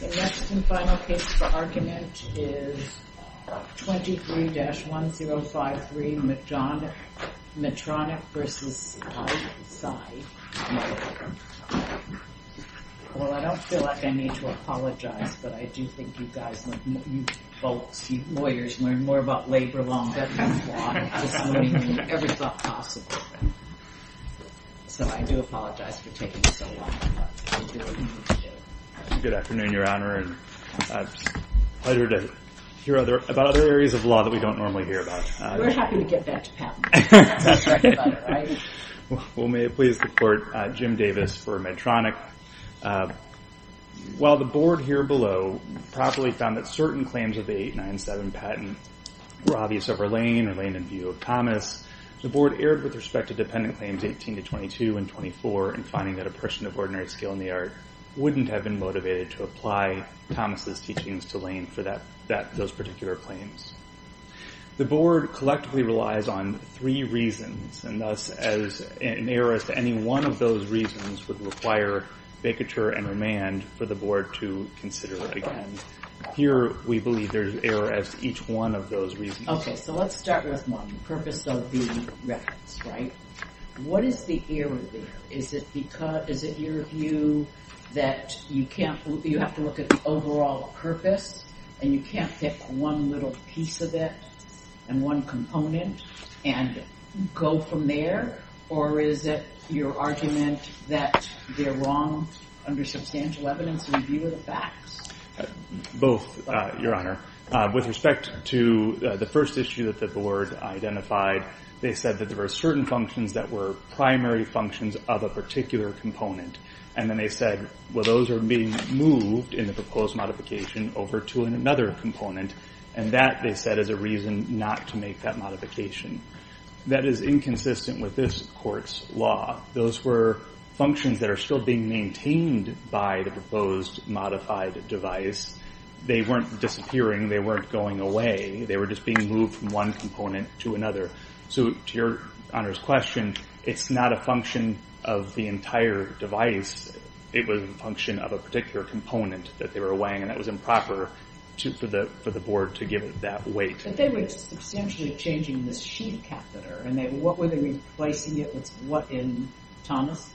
The next and final case for argument is 23-1053 Medtronic v. Speyside Medical, LLC Well, I don't feel like I need to apologize, but I do think you guys, you folks, you lawyers, learn more about labor law and business law this morning than you ever thought possible. So I do apologize for taking so long. Good afternoon, Your Honor, and it's a pleasure to hear about other areas of law that we don't normally hear about. We're happy to get back to patents. Well, may it please the Court, Jim Davis for Medtronic. While the Board here below properly found that certain claims of the 897 patent were obvious over Lane and Lane in view of Thomas, the Board erred with respect to dependent claims 18-22 and 24 in finding that a person of ordinary skill in the art wouldn't have been motivated to apply Thomas' teachings to Lane for those particular claims. The Board collectively relies on three reasons, and thus an error as to any one of those reasons would require vacatur and remand for the Board to consider again. Here, we believe there's error as to each one of those reasons. Okay, so let's start with one, the purpose of the reference, right? What is the error there? Is it your view that you have to look at the overall purpose and you can't pick one little piece of it and one component and go from there? Or is it your argument that they're wrong under substantial evidence in view of the facts? Both, Your Honor. With respect to the first issue that the Board identified, they said that there were certain functions that were primary functions of a particular component, and then they said, well, those are being moved in the proposed modification over to another component, and that, they said, is a reason not to make that modification. That is inconsistent with this Court's law. Those were functions that are still being maintained by the proposed modified device. They weren't disappearing. They weren't going away. They were just being moved from one component to another. So to Your Honor's question, it's not a function of the entire device. It was a function of a particular component that they were weighing, and that was improper for the Board to give it that weight. But they were substantially changing this sheath catheter, and what were they replacing it with in Thomas?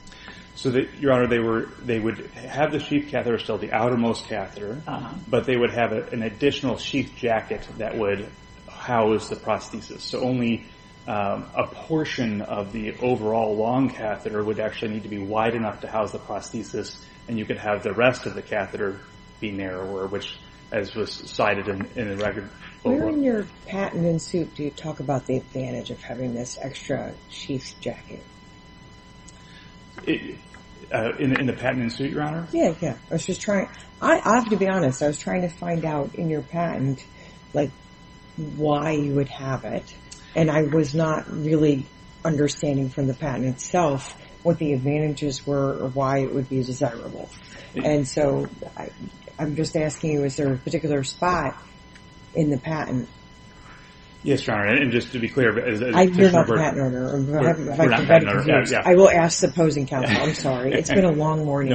Your Honor, they would have the sheath catheter, still the outermost catheter, but they would have an additional sheath jacket that would house the prosthesis. So only a portion of the overall long catheter would actually need to be wide enough to house the prosthesis, and you could have the rest of the catheter be narrower, which, as was cited in the record. Where in your patent and suit do you talk about the advantage of having this extra sheath jacket? In the patent and suit, Your Honor? Yeah, yeah. I have to be honest. I was trying to find out in your patent, like, why you would have it, and I was not really understanding from the patent itself what the advantages were or why it would be desirable. And so I'm just asking, was there a particular spot in the patent? Yes, Your Honor, and just to be clear. I fear about patent order. I will ask the opposing counsel. I'm sorry. It's been a long morning.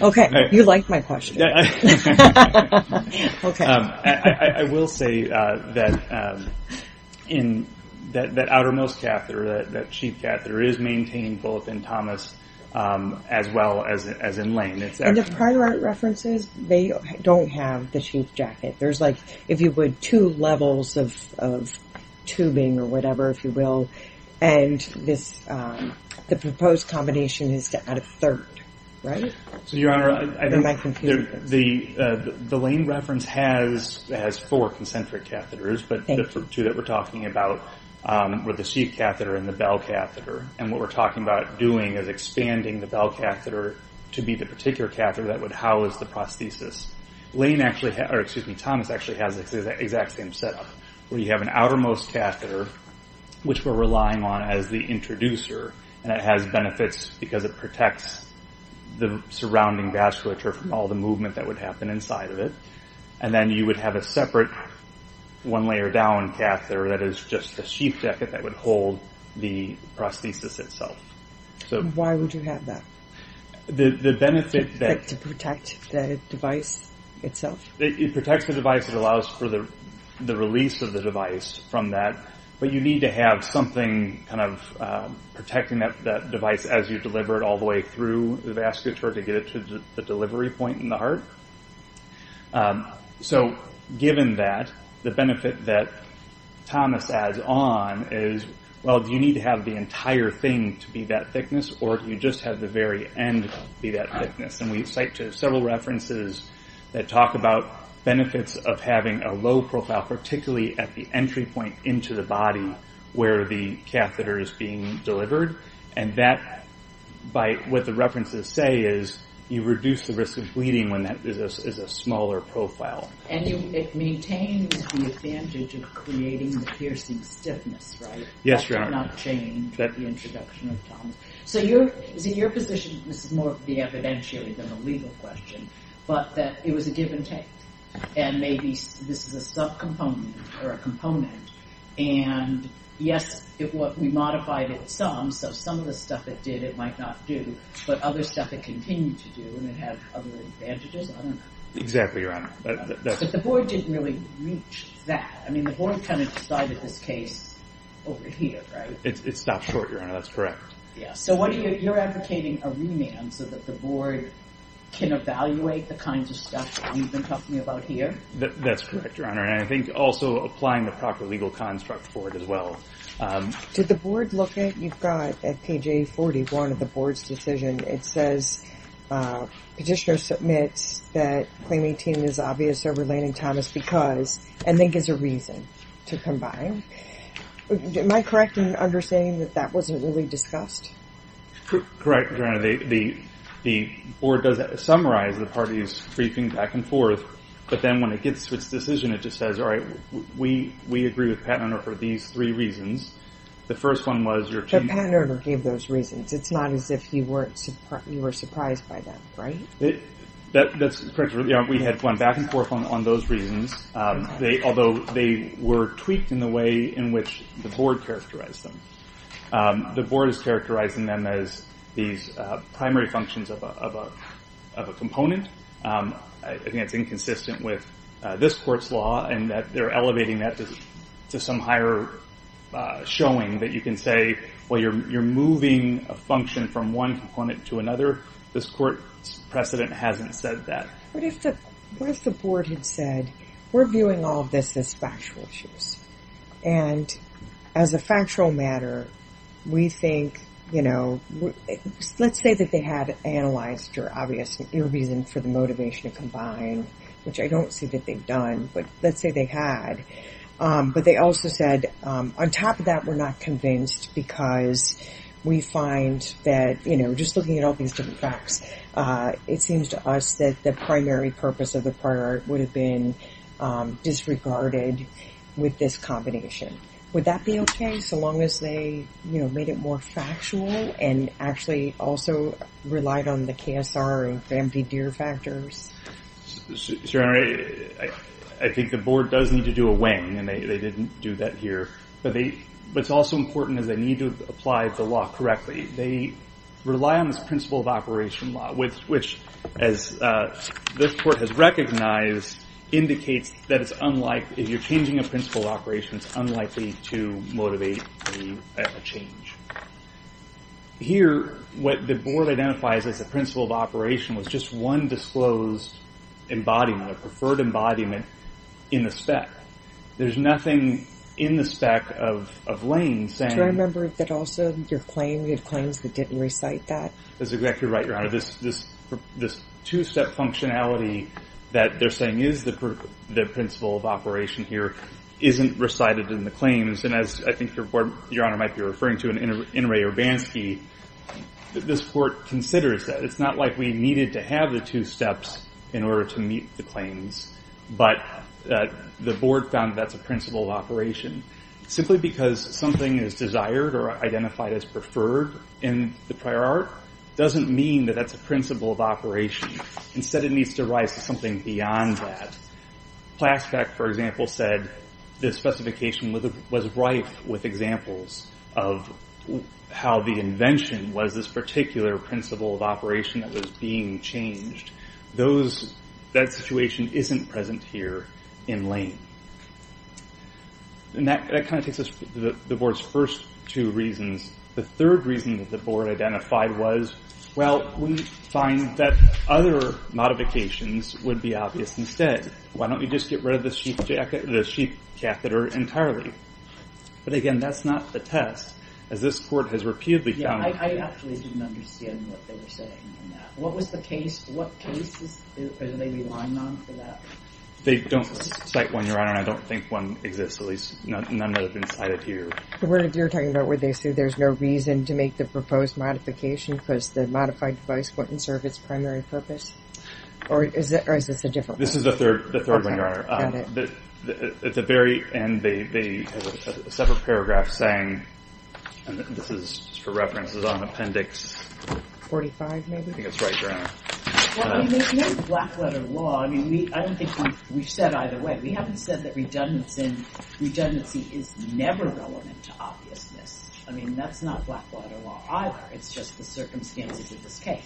Okay. You like my question. Okay. I will say that in that outermost catheter, that sheath catheter, is maintained both in Thomas as well as in Lane. And the prior art references, they don't have the sheath jacket. There's like, if you would, two levels of tubing or whatever, if you will, and the proposed combination is to add a third, right? So, Your Honor, the Lane reference has four concentric catheters, but the two that we're talking about were the sheath catheter and the bell catheter, and what we're talking about doing is expanding the bell catheter to be the particular catheter that would house the prosthesis. Lane actually, or excuse me, Thomas actually has the exact same setup, where you have an outermost catheter, which we're relying on as the introducer, and it has benefits because it protects the surrounding vasculature from all the movement that would happen inside of it. And then you would have a separate one-layer-down catheter that is just a sheath jacket that would hold the prosthesis itself. Why would you have that? The benefit that... To protect the device itself? It protects the device. It allows for the release of the device from that, but you need to have something kind of protecting that device as you deliver it through the vasculature to get it to the delivery point in the heart. So given that, the benefit that Thomas adds on is, well, do you need to have the entire thing to be that thickness, or do you just have the very end be that thickness? And we cite several references that talk about benefits of having a low profile, particularly at the entry point into the body where the catheter is being delivered, and that, by what the references say, is you reduce the risk of bleeding when that is a smaller profile. And it maintains the advantage of creating the piercing stiffness, right? Yes, Your Honor. That did not change at the introduction of Thomas. So is it your position that this is more of the evidentiary than a legal question, but that it was a give-and-take, and maybe this is a subcomponent or a component, and, yes, we modified it some, so some of the stuff it did it might not do, but other stuff it continued to do, and it had other advantages? I don't know. Exactly, Your Honor. But the board didn't really reach that. I mean, the board kind of decided this case over here, right? It stopped short, Your Honor. That's correct. Yeah. So you're advocating a remand so that the board can evaluate the kinds of stuff that you've been talking about here? That's correct, Your Honor. And I think also applying the proper legal construct for it as well. Did the board look at you've got at page A41 of the board's decision? It says petitioner submits that claiming team is obvious or relating Thomas because, and then gives a reason to combine. Am I correct in understanding that that wasn't really discussed? Correct, Your Honor. The board does summarize the parties' briefings back and forth, but then when it gets to its decision, it just says, all right, we agree with Pat and Erna for these three reasons. The first one was your team. But Pat and Erna gave those reasons. It's not as if you were surprised by them, right? That's correct, Your Honor. We had gone back and forth on those reasons, although they were tweaked in the way in which the board characterized them. The board is characterizing them as these primary functions of a component. I think that's inconsistent with this court's law in that they're elevating that to some higher showing that you can say, well, you're moving a function from one component to another. This court's precedent hasn't said that. What if the board had said, we're viewing all of this as factual issues, let's say that they had analyzed your reason for the motivation to combine, which I don't see that they've done, but let's say they had. But they also said, on top of that, we're not convinced because we find that, you know, just looking at all these different facts, it seems to us that the primary purpose of the prior art would have been disregarded with this combination. Would that be okay so long as they made it more factual and actually also relied on the KSR of empty deer factors? Your Honor, I think the board does need to do a weighing, and they didn't do that here. But what's also important is they need to apply the law correctly. They rely on this principle of operation law, which, as this court has recognized, indicates that if you're changing a principle of operation, it's unlikely to motivate a change. Here, what the board identifies as a principle of operation was just one disclosed embodiment, a preferred embodiment in the spec. There's nothing in the spec of Lane saying that also your claim, you have claims that didn't recite that. That's exactly right, Your Honor. This two-step functionality that they're saying is the principle of operation here isn't recited in the claims. And as I think Your Honor might be referring to in Ray Urbanski, this court considers that. It's not like we needed to have the two steps in order to meet the claims, but the board found that's a principle of operation. Simply because something is desired or identified as preferred in the prior art doesn't mean that that's a principle of operation. Instead, it needs to rise to something beyond that. Plaspec, for example, said this specification was rife with examples of how the invention was this particular principle of operation that was being changed. That situation isn't present here in Lane. And that kind of takes us to the board's first two reasons. The third reason that the board identified was, Well, we find that other modifications would be obvious instead. Why don't we just get rid of the sheath catheter entirely? But again, that's not the test, as this court has repeatedly found. Yeah, I actually didn't understand what they were saying in that. What was the case? What cases are they relying on for that? They don't cite one, Your Honor, and I don't think one exists, at least none that have been cited here. But you're talking about where they say there's no reason to make the proposed modification because the modified device wouldn't serve its primary purpose? Or is this a different case? This is the third one, Your Honor. At the very end, they have a separate paragraph saying, and this is for reference, it's on Appendix... 45, maybe? I think that's right, Your Honor. There's no black-letter law. I don't think we've said either way. We haven't said that redundancy is never relevant to obviousness. I mean, that's not black-letter law either. It's just the circumstances of this case.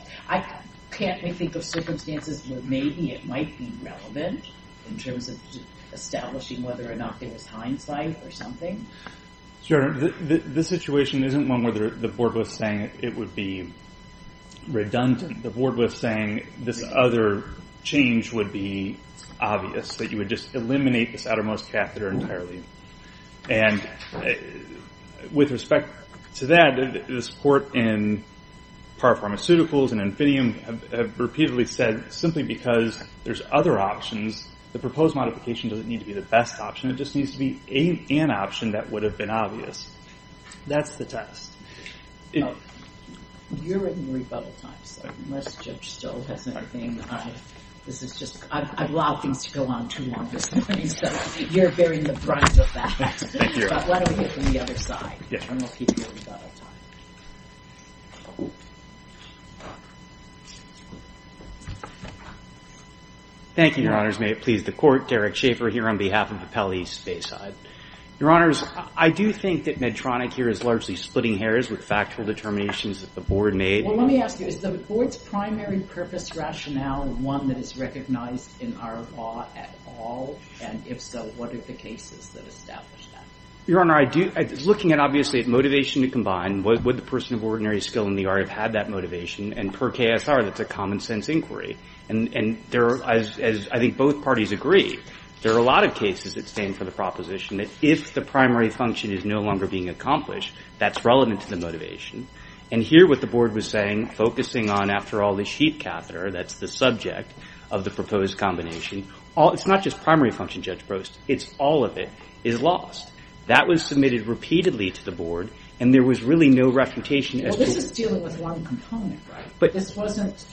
Can't we think of circumstances where maybe it might be relevant in terms of establishing whether or not there was hindsight or something? Sure. This situation isn't one where the board was saying it would be redundant. The board was saying this other change would be obvious, that you would just eliminate this outermost catheter entirely. And with respect to that, the support in Par Pharmaceuticals and Infinium have repeatedly said simply because there's other options, the proposed modification doesn't need to be the best option. It just needs to be an option that would have been obvious. That's the test. You're in rebuttal time, so unless the judge still has anything, this is just, I've allowed things to go on too long. You're bearing the brunt of that. Why don't we get to the other side? Thank you, Your Honors. May it please the Court. Derek Schaefer here on behalf of the Pele Space Side. Your Honors, I do think that Medtronic here is largely splitting hairs with factual determinations that the board made. Well, let me ask you, is the board's primary purpose rationale one that is recognized in our law at all? And if so, what are the cases that establish that? Your Honor, looking at obviously motivation to combine, would the person of ordinary skill in the art have had that motivation? And per KSR, that's a common sense inquiry. And I think both parties agree. There are a lot of cases that stand for the proposition that if the primary function is no longer being accomplished, that's relevant to the motivation. And here what the board was saying, focusing on, after all, the sheet catheter, that's the subject of the proposed combination, it's not just primary function, Judge Prost. It's all of it is lost. That was submitted repeatedly to the board, and there was really no refutation. Well, this is dealing with one component, right? But this wasn't,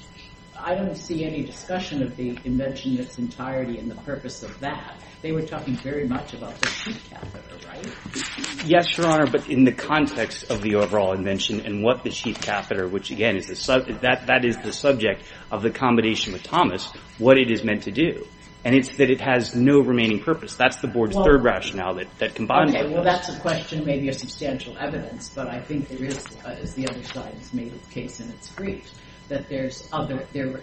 I don't see any discussion of the invention in its entirety and the purpose of that. They were talking very much about the sheet catheter, right? Yes, Your Honor, but in the context of the overall invention and what the sheet catheter, which again, that is the subject of the combination with Thomas, what it is meant to do. And it's that it has no remaining purpose. That's the board's third rationale that combines them. Okay, well, that's a question maybe of substantial evidence, but I think there is, as the other sides made the case in its brief, that there are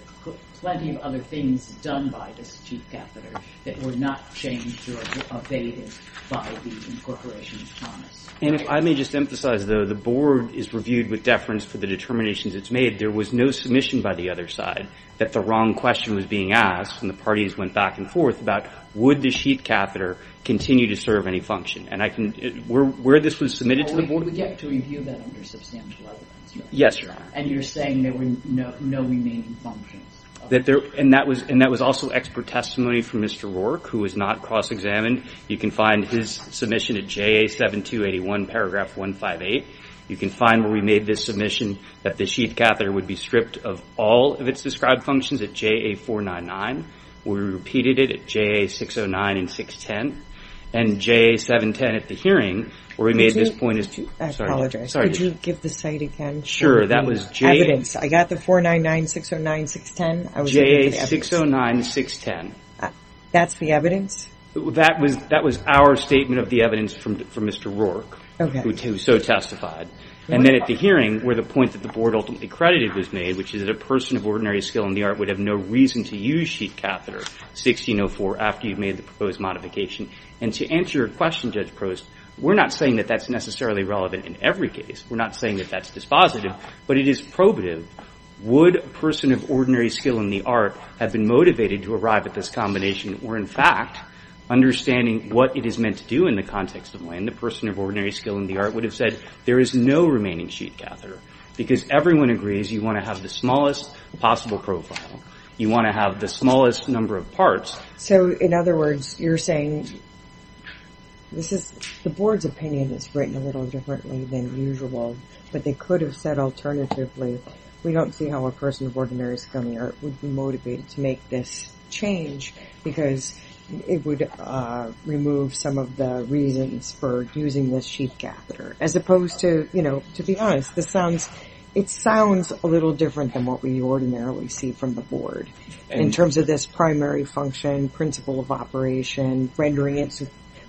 plenty of other things done by this sheet catheter that were not changed or evaded by the incorporation of Thomas. And if I may just emphasize, though, when the board is reviewed with deference for the determinations it's made, there was no submission by the other side that the wrong question was being asked, and the parties went back and forth about, would the sheet catheter continue to serve any function? And I can, where this was submitted to the board... Well, we get to review that under substantial evidence. Yes, Your Honor. And you're saying there were no remaining functions. And that was also expert testimony from Mr. Rourke, who was not cross-examined. You can find his submission at JA-7281, paragraph 158. You can find where we made this submission that the sheet catheter would be stripped of all of its described functions at JA-499. We repeated it at JA-609 and 610. And JA-710 at the hearing, where we made this point... I apologize. Sorry. Could you give the site again? Sure, that was JA... Evidence. I got the 499, 609, 610. JA-609, 610. That's the evidence? That was our statement of the evidence from Mr. Rourke, who so testified. And then at the hearing, where the point that the board ultimately credited was made, which is that a person of ordinary skill in the art would have no reason to use sheet catheter 1604 after you've made the proposed modification. And to answer your question, Judge Prost, we're not saying that that's necessarily relevant in every case. We're not saying that that's dispositive, but it is probative. Would a person of ordinary skill in the art have been motivated to arrive at this combination or, in fact, understanding what it is meant to do in the context of when the person of ordinary skill in the art would have said, there is no remaining sheet catheter? Because everyone agrees you want to have the smallest possible profile. You want to have the smallest number of parts. So, in other words, you're saying... The board's opinion is written a little differently than usual, but they could have said alternatively, we don't see how a person of ordinary skill in the art would be motivated to make this change because it would remove some of the reasons for using this sheet catheter. As opposed to, you know, to be honest, it sounds a little different than what we ordinarily see from the board in terms of this primary function, principle of operation, rendering it...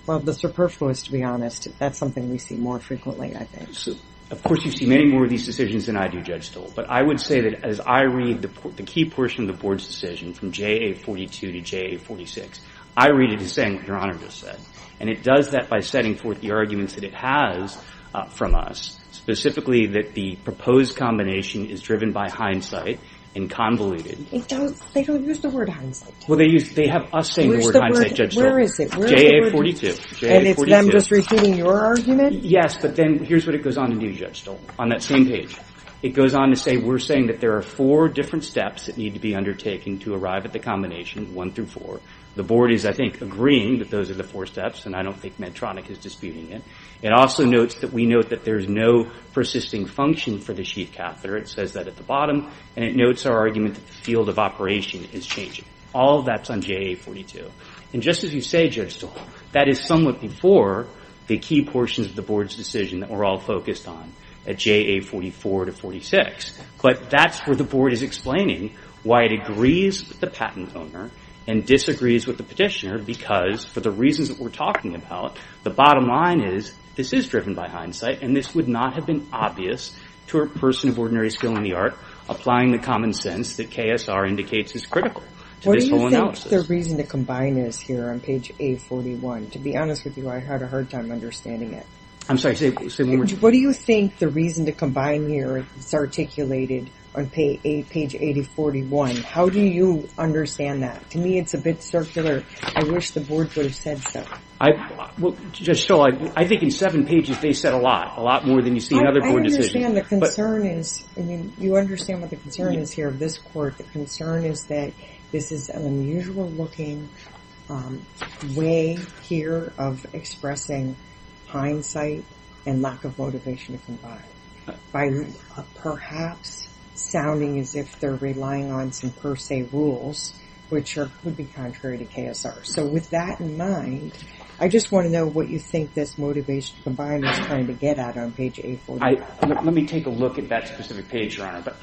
Well, the superfluous, to be honest. That's something we see more frequently, I think. Of course, you see many more of these decisions than I do, Judge Stoll. But I would say that as I read the key portion of the board's decision from JA42 to JA46, I read it as saying what Your Honor just said. And it does that by setting forth the arguments that it has from us, specifically that the proposed combination is driven by hindsight and convoluted. They don't use the word hindsight. Well, they have us saying the word hindsight, Judge Stoll. Where is it? JA42. And it's them just repeating your argument? Yes, but then here's what it goes on to do, Judge Stoll, on that same page. It goes on to say we're saying that there are four different steps that need to be undertaken to arrive at the combination, one through four. The board is, I think, agreeing that those are the four steps, and I don't think Medtronic is disputing it. It also notes that we note that there's no persisting function for the sheath catheter. It says that at the bottom. And it notes our argument that the field of operation is changing. All of that's on JA42. And just as you say, Judge Stoll, that is somewhat before the key portions of the board's decision that we're all focused on at JA44 to 46. But that's where the board is explaining why it agrees with the patent owner and disagrees with the petitioner because for the reasons that we're talking about, the bottom line is this is driven by hindsight, and this would not have been obvious to a person of ordinary skill in the art applying the common sense that KSR indicates is critical to this whole analysis. What do you think the reason to combine is here on page A41? To be honest with you, I had a hard time understanding it. I'm sorry, say one more time. What do you think the reason to combine here is articulated on page 8041? How do you understand that? To me, it's a bit circular. I wish the board would have said so. Well, Judge Stoll, I think in seven pages they said a lot, a lot more than you see in other board decisions. I understand the concern is, I mean, you understand what the concern is here of this court. The concern is that this is an unusual-looking way here of expressing hindsight and lack of motivation to combine by perhaps sounding as if they're relying on some per se rules, which would be contrary to KSR. So with that in mind, I just want to know what you think this motivation to combine is trying to get at on page A41.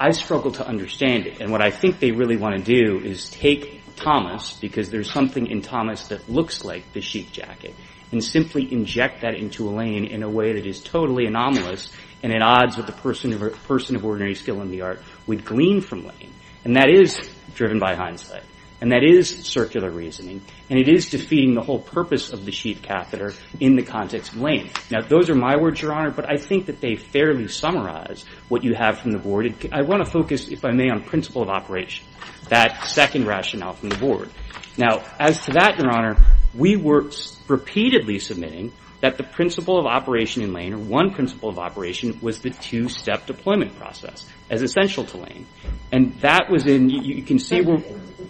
I struggle to understand it. And what I think they really want to do is take Thomas, because there's something in Thomas that looks like the sheath jacket, and simply inject that into Elaine in a way that is totally anomalous and at odds with the person of ordinary skill in the art, would glean from Elaine. And that is driven by hindsight. And that is circular reasoning. And it is defeating the whole purpose of the sheath catheter in the context of Elaine. Now, those are my words, Your Honor, but I think that they fairly summarize what you have from the board. And I want to focus, if I may, on principle of operation, that second rationale from the board. Now, as to that, Your Honor, we were repeatedly submitting that the principle of operation in Elaine, or one principle of operation, was the two-step deployment process as essential to Elaine. And that was inóyou can seeó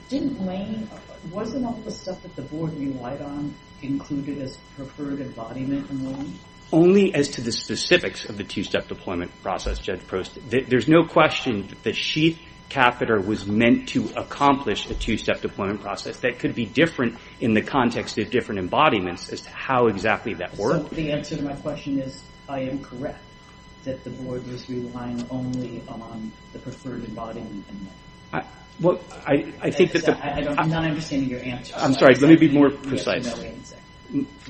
Didn't Elaineówasn't all the stuff that the board relied on included as preferred embodiment in Elaine? Only as to the specifics of the two-step deployment process, Judge Prost. There is no question that the sheath catheter was meant to accomplish a two-step deployment process. That could be different in the context of different embodiments, as to how exactly that worked. So the answer to my question is I am correct, that the board was relying only on the preferred embodiment in Elaine. Well, I think that theó I'm not understanding your answer. I'm sorry. Let me be more precise.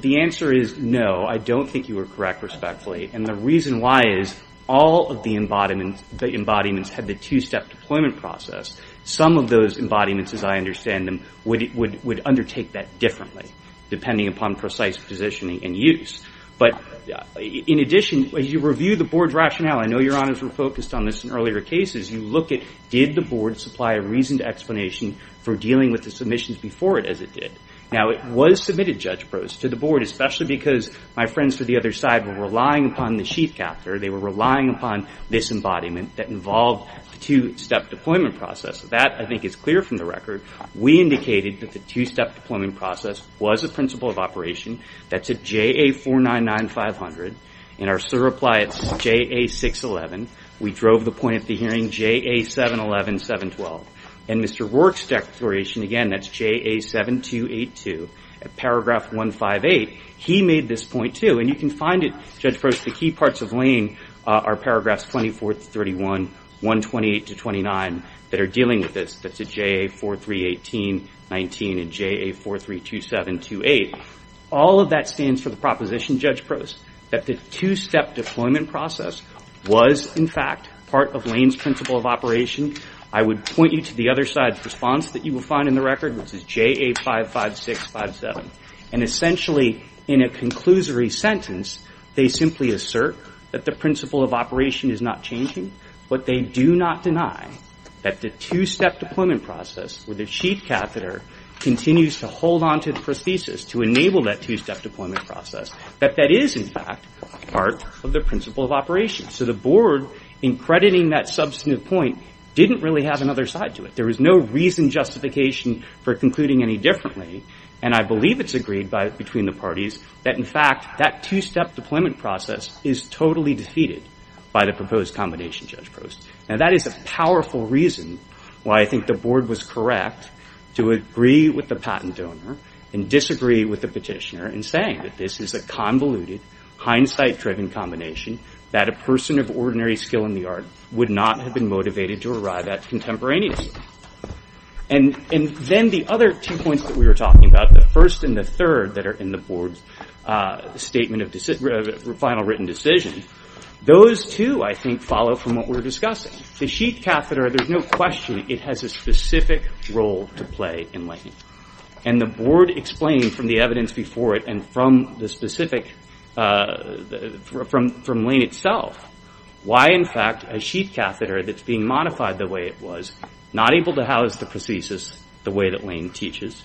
The answer is no. I don't think you are correct, respectfully. And the reason why is all of the embodiments had the two-step deployment process. Some of those embodiments, as I understand them, would undertake that differently, depending upon precise positioning and use. But in addition, as you review the board's rationaleó I know Your Honors were focused on this in earlier casesó you look at did the board supply a reasoned explanation for dealing with the submissions before it as it did. Now, it was submitted, Judge Prost, to the board, especially because my friends to the other side were relying upon the chief captor. They were relying upon this embodiment that involved the two-step deployment process. That, I think, is clear from the record. We indicated that the two-step deployment process was a principle of operation. That's at JA-499-500. In our SIR reply, it's JA-611. We drove the point of the hearing, JA-711-712. In Mr. Rourke's declaration, again, that's JA-7282. At paragraph 158, he made this point, too, and you can find it, Judge Prost. The key parts of Lane are paragraphs 24 to 31, 128 to 29 that are dealing with this. That's at JA-4318-19 and JA-4327-28. All of that stands for the proposition, Judge Prost, that the two-step deployment process was, in fact, part of Lane's principle of operation. I would point you to the other side's response that you will find in the record, which is JA-55657. And essentially, in a conclusory sentence, they simply assert that the principle of operation is not changing, but they do not deny that the two-step deployment process where the chief captor continues to hold on to the prosthesis to enable that two-step deployment process, that that is, in fact, part of the principle of operation. So the Board, in crediting that substantive point, didn't really have another side to it. There was no reason, justification for concluding any differently, and I believe it's agreed between the parties that, in fact, that two-step deployment process is totally defeated by the proposed combination, Judge Prost. Now, that is a powerful reason why I think the Board was correct to agree with the patent donor and disagree with the petitioner in saying that this is a convoluted, hindsight-driven combination that a person of ordinary skill in the art would not have been motivated to arrive at contemporaneously. And then the other two points that we were talking about, the first and the third that are in the Board's statement of final written decision, those, too, I think, follow from what we were discussing. The chief captor, there's no question it has a specific role to play in latent. And the Board explained from the evidence before it and from the specific, from Lane itself, why, in fact, a chief captor that's being modified the way it was, not able to house the prosthesis the way that Lane teaches,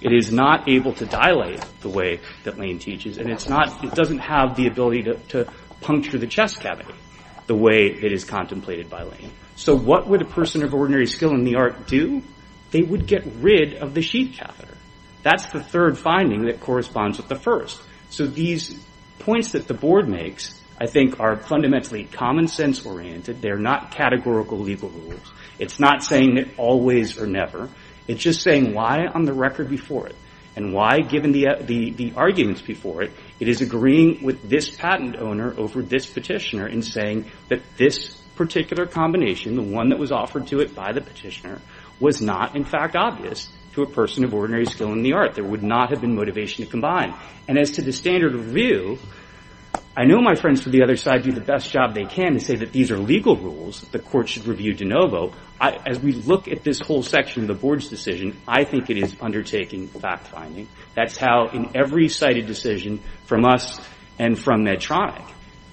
it is not able to dilate the way that Lane teaches, and it doesn't have the ability to puncture the chest cavity the way it is contemplated by Lane. So what would a person of ordinary skill in the art do? They would get rid of the chief captor. That's the third finding that corresponds with the first. So these points that the Board makes, I think, are fundamentally common sense oriented. They're not categorical legal rules. It's not saying that always or never. It's just saying why on the record before it and why, given the arguments before it, it is agreeing with this patent owner over this petitioner in saying that this particular combination, the one that was offered to it by the petitioner, was not, in fact, obvious to a person of ordinary skill in the art. There would not have been motivation to combine. And as to the standard of review, I know my friends to the other side do the best job they can to say that these are legal rules that the Court should review de novo. As we look at this whole section of the Board's decision, I think it is undertaking fact-finding. That's how in every cited decision from us and from Medtronic,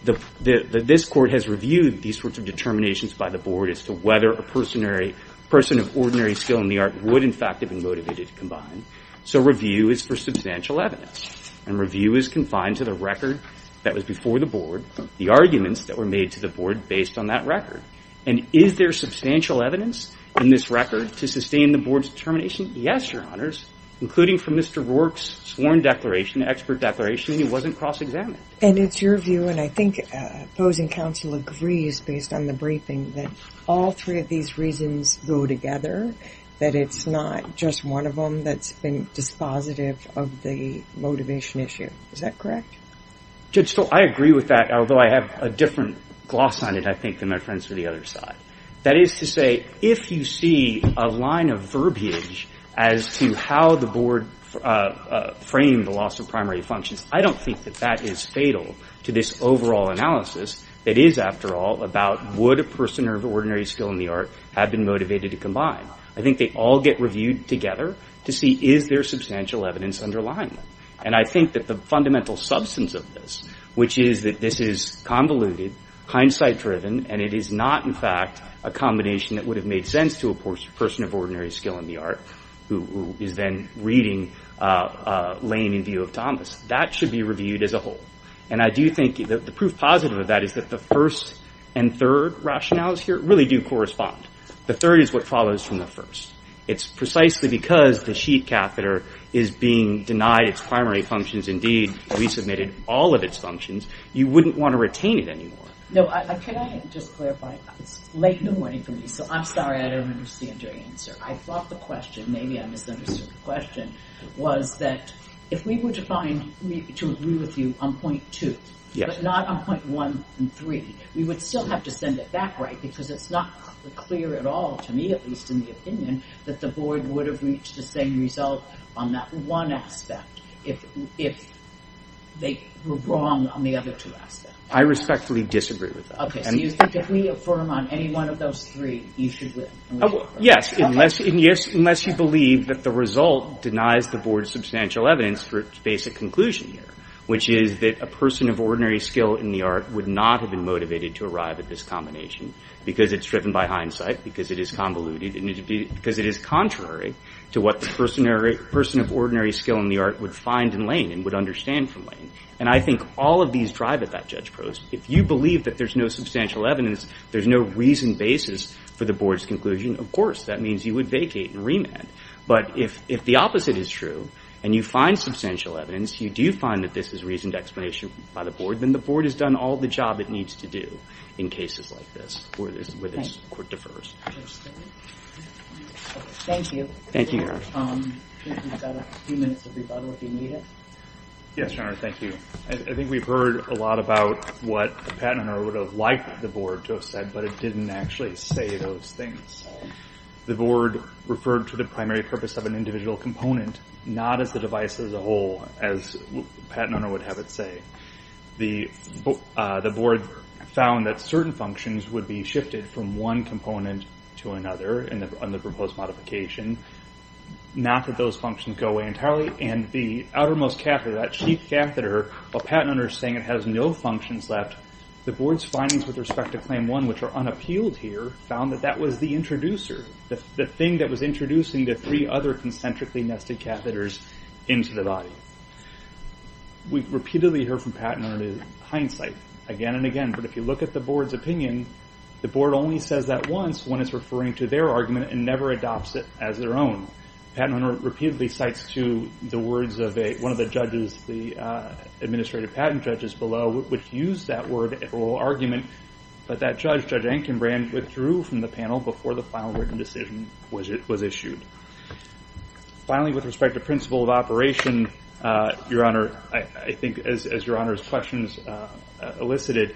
this Court has reviewed these sorts of determinations by the Board as to whether a person of ordinary skill in the art would, in fact, have been motivated to combine. So review is for substantial evidence. And review is confined to the record that was before the Board, the arguments that were made to the Board based on that record. And is there substantial evidence in this record to sustain the Board's determination? Yes, Your Honors, including from Mr. Rourke's sworn declaration, expert declaration, and it wasn't cross-examined. And it's your view, and I think opposing counsel agrees based on the briefing, that all three of these reasons go together, that it's not just one of them that's been dispositive of the motivation issue. Is that correct? Judge Stoll, I agree with that, although I have a different gloss on it, I think, than my friends to the other side. That is to say, if you see a line of verbiage as to how the Board framed the loss of primary functions, I don't think that that is fatal to this overall analysis. It is, after all, about would a person of ordinary skill in the art have been motivated to combine. I think they all get reviewed together to see is there substantial evidence underlying them. And I think that the fundamental substance of this, which is that this is convoluted, hindsight-driven, and it is not, in fact, a combination that would have made sense to a person of ordinary skill in the art who is then reading Lane in view of Thomas. That should be reviewed as a whole. And I do think the proof positive of that is that the first and third rationales here really do correspond. The third is what follows from the first. It's precisely because the sheet catheter is being denied its primary functions, indeed resubmitted all of its functions, you wouldn't want to retain it anymore. No, can I just clarify? It's late in the morning for me, so I'm sorry I don't understand your answer. I thought the question, maybe I misunderstood the question, was that if we were to agree with you on point two, but not on point one and three, we would still have to send it back, right? Because it's not clear at all to me, at least in the opinion, that the board would have reached the same result on that one aspect if they were wrong on the other two aspects. I respectfully disagree with that. Okay, so you think if we affirm on any one of those three, you should win? Yes, unless you believe that the result denies the board substantial evidence for its basic conclusion here, which is that a person of ordinary skill in the art would not have been motivated to arrive at this combination because it's driven by hindsight, because it is convoluted, because it is contrary to what the person of ordinary skill in the art would find in Lane and would understand from Lane. And I think all of these drive at that judge post. If you believe that there's no substantial evidence, there's no reasoned basis for the board's conclusion, of course. That means you would vacate and remand. But if the opposite is true and you find substantial evidence, you do find that this is reasoned explanation by the board, then the board has done all the job it needs to do in cases like this where the court defers. Thank you. Thank you, Your Honor. We've got a few minutes of rebuttal if you need it. Yes, Your Honor, thank you. I think we've heard a lot about what Pat and I would have liked the board to have said, but it didn't actually say those things. The board referred to the primary purpose of an individual component, not as the device as a whole, as Pat and I would have it say. The board found that certain functions would be shifted from one component to another on the proposed modification, not that those functions go away entirely. And the outermost catheter, that chief catheter, while Pat and I are saying it has no functions left, the board's findings with respect to Claim 1, which are unappealed here, found that that was the introducer, the thing that was introducing the three other concentrically nested catheters into the body. We repeatedly heard from Pat and I the hindsight again and again, but if you look at the board's opinion, the board only says that once when it's referring to their argument and never adopts it as their own. Pat and I repeatedly cite to the words of one of the judges, the administrative patent judges below, which used that word, oral argument, but that judge, Judge Ankenbrand, withdrew from the panel before the final written decision was issued. Finally, with respect to principle of operation, Your Honor, I think as Your Honor's questions elicited,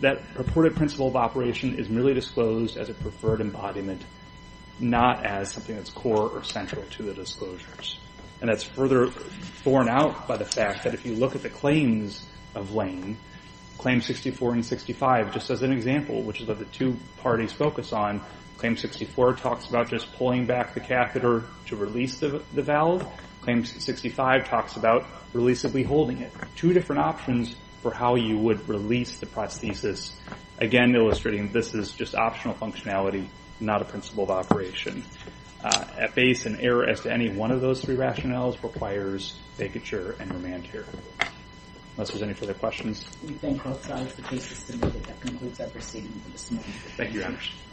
that purported principle of operation is merely disclosed as a preferred embodiment, not as something that's core or central to the disclosures. That's further thorn out by the fact that if you look at the claims of Lane, Claim 64 and 65, just as an example, which is what the two parties focus on, Claim 64 talks about just pulling back the catheter to release the valve. Claim 65 talks about releasably holding it. Two different options for how you would release the prosthesis, again illustrating this is just optional functionality, not a principle of operation. At base, an error as to any one of those three rationales requires faggoture and remand terror. Unless there's any further questions. We thank both sides of the case system. That concludes our proceedings this morning. Thank you, Your Honor.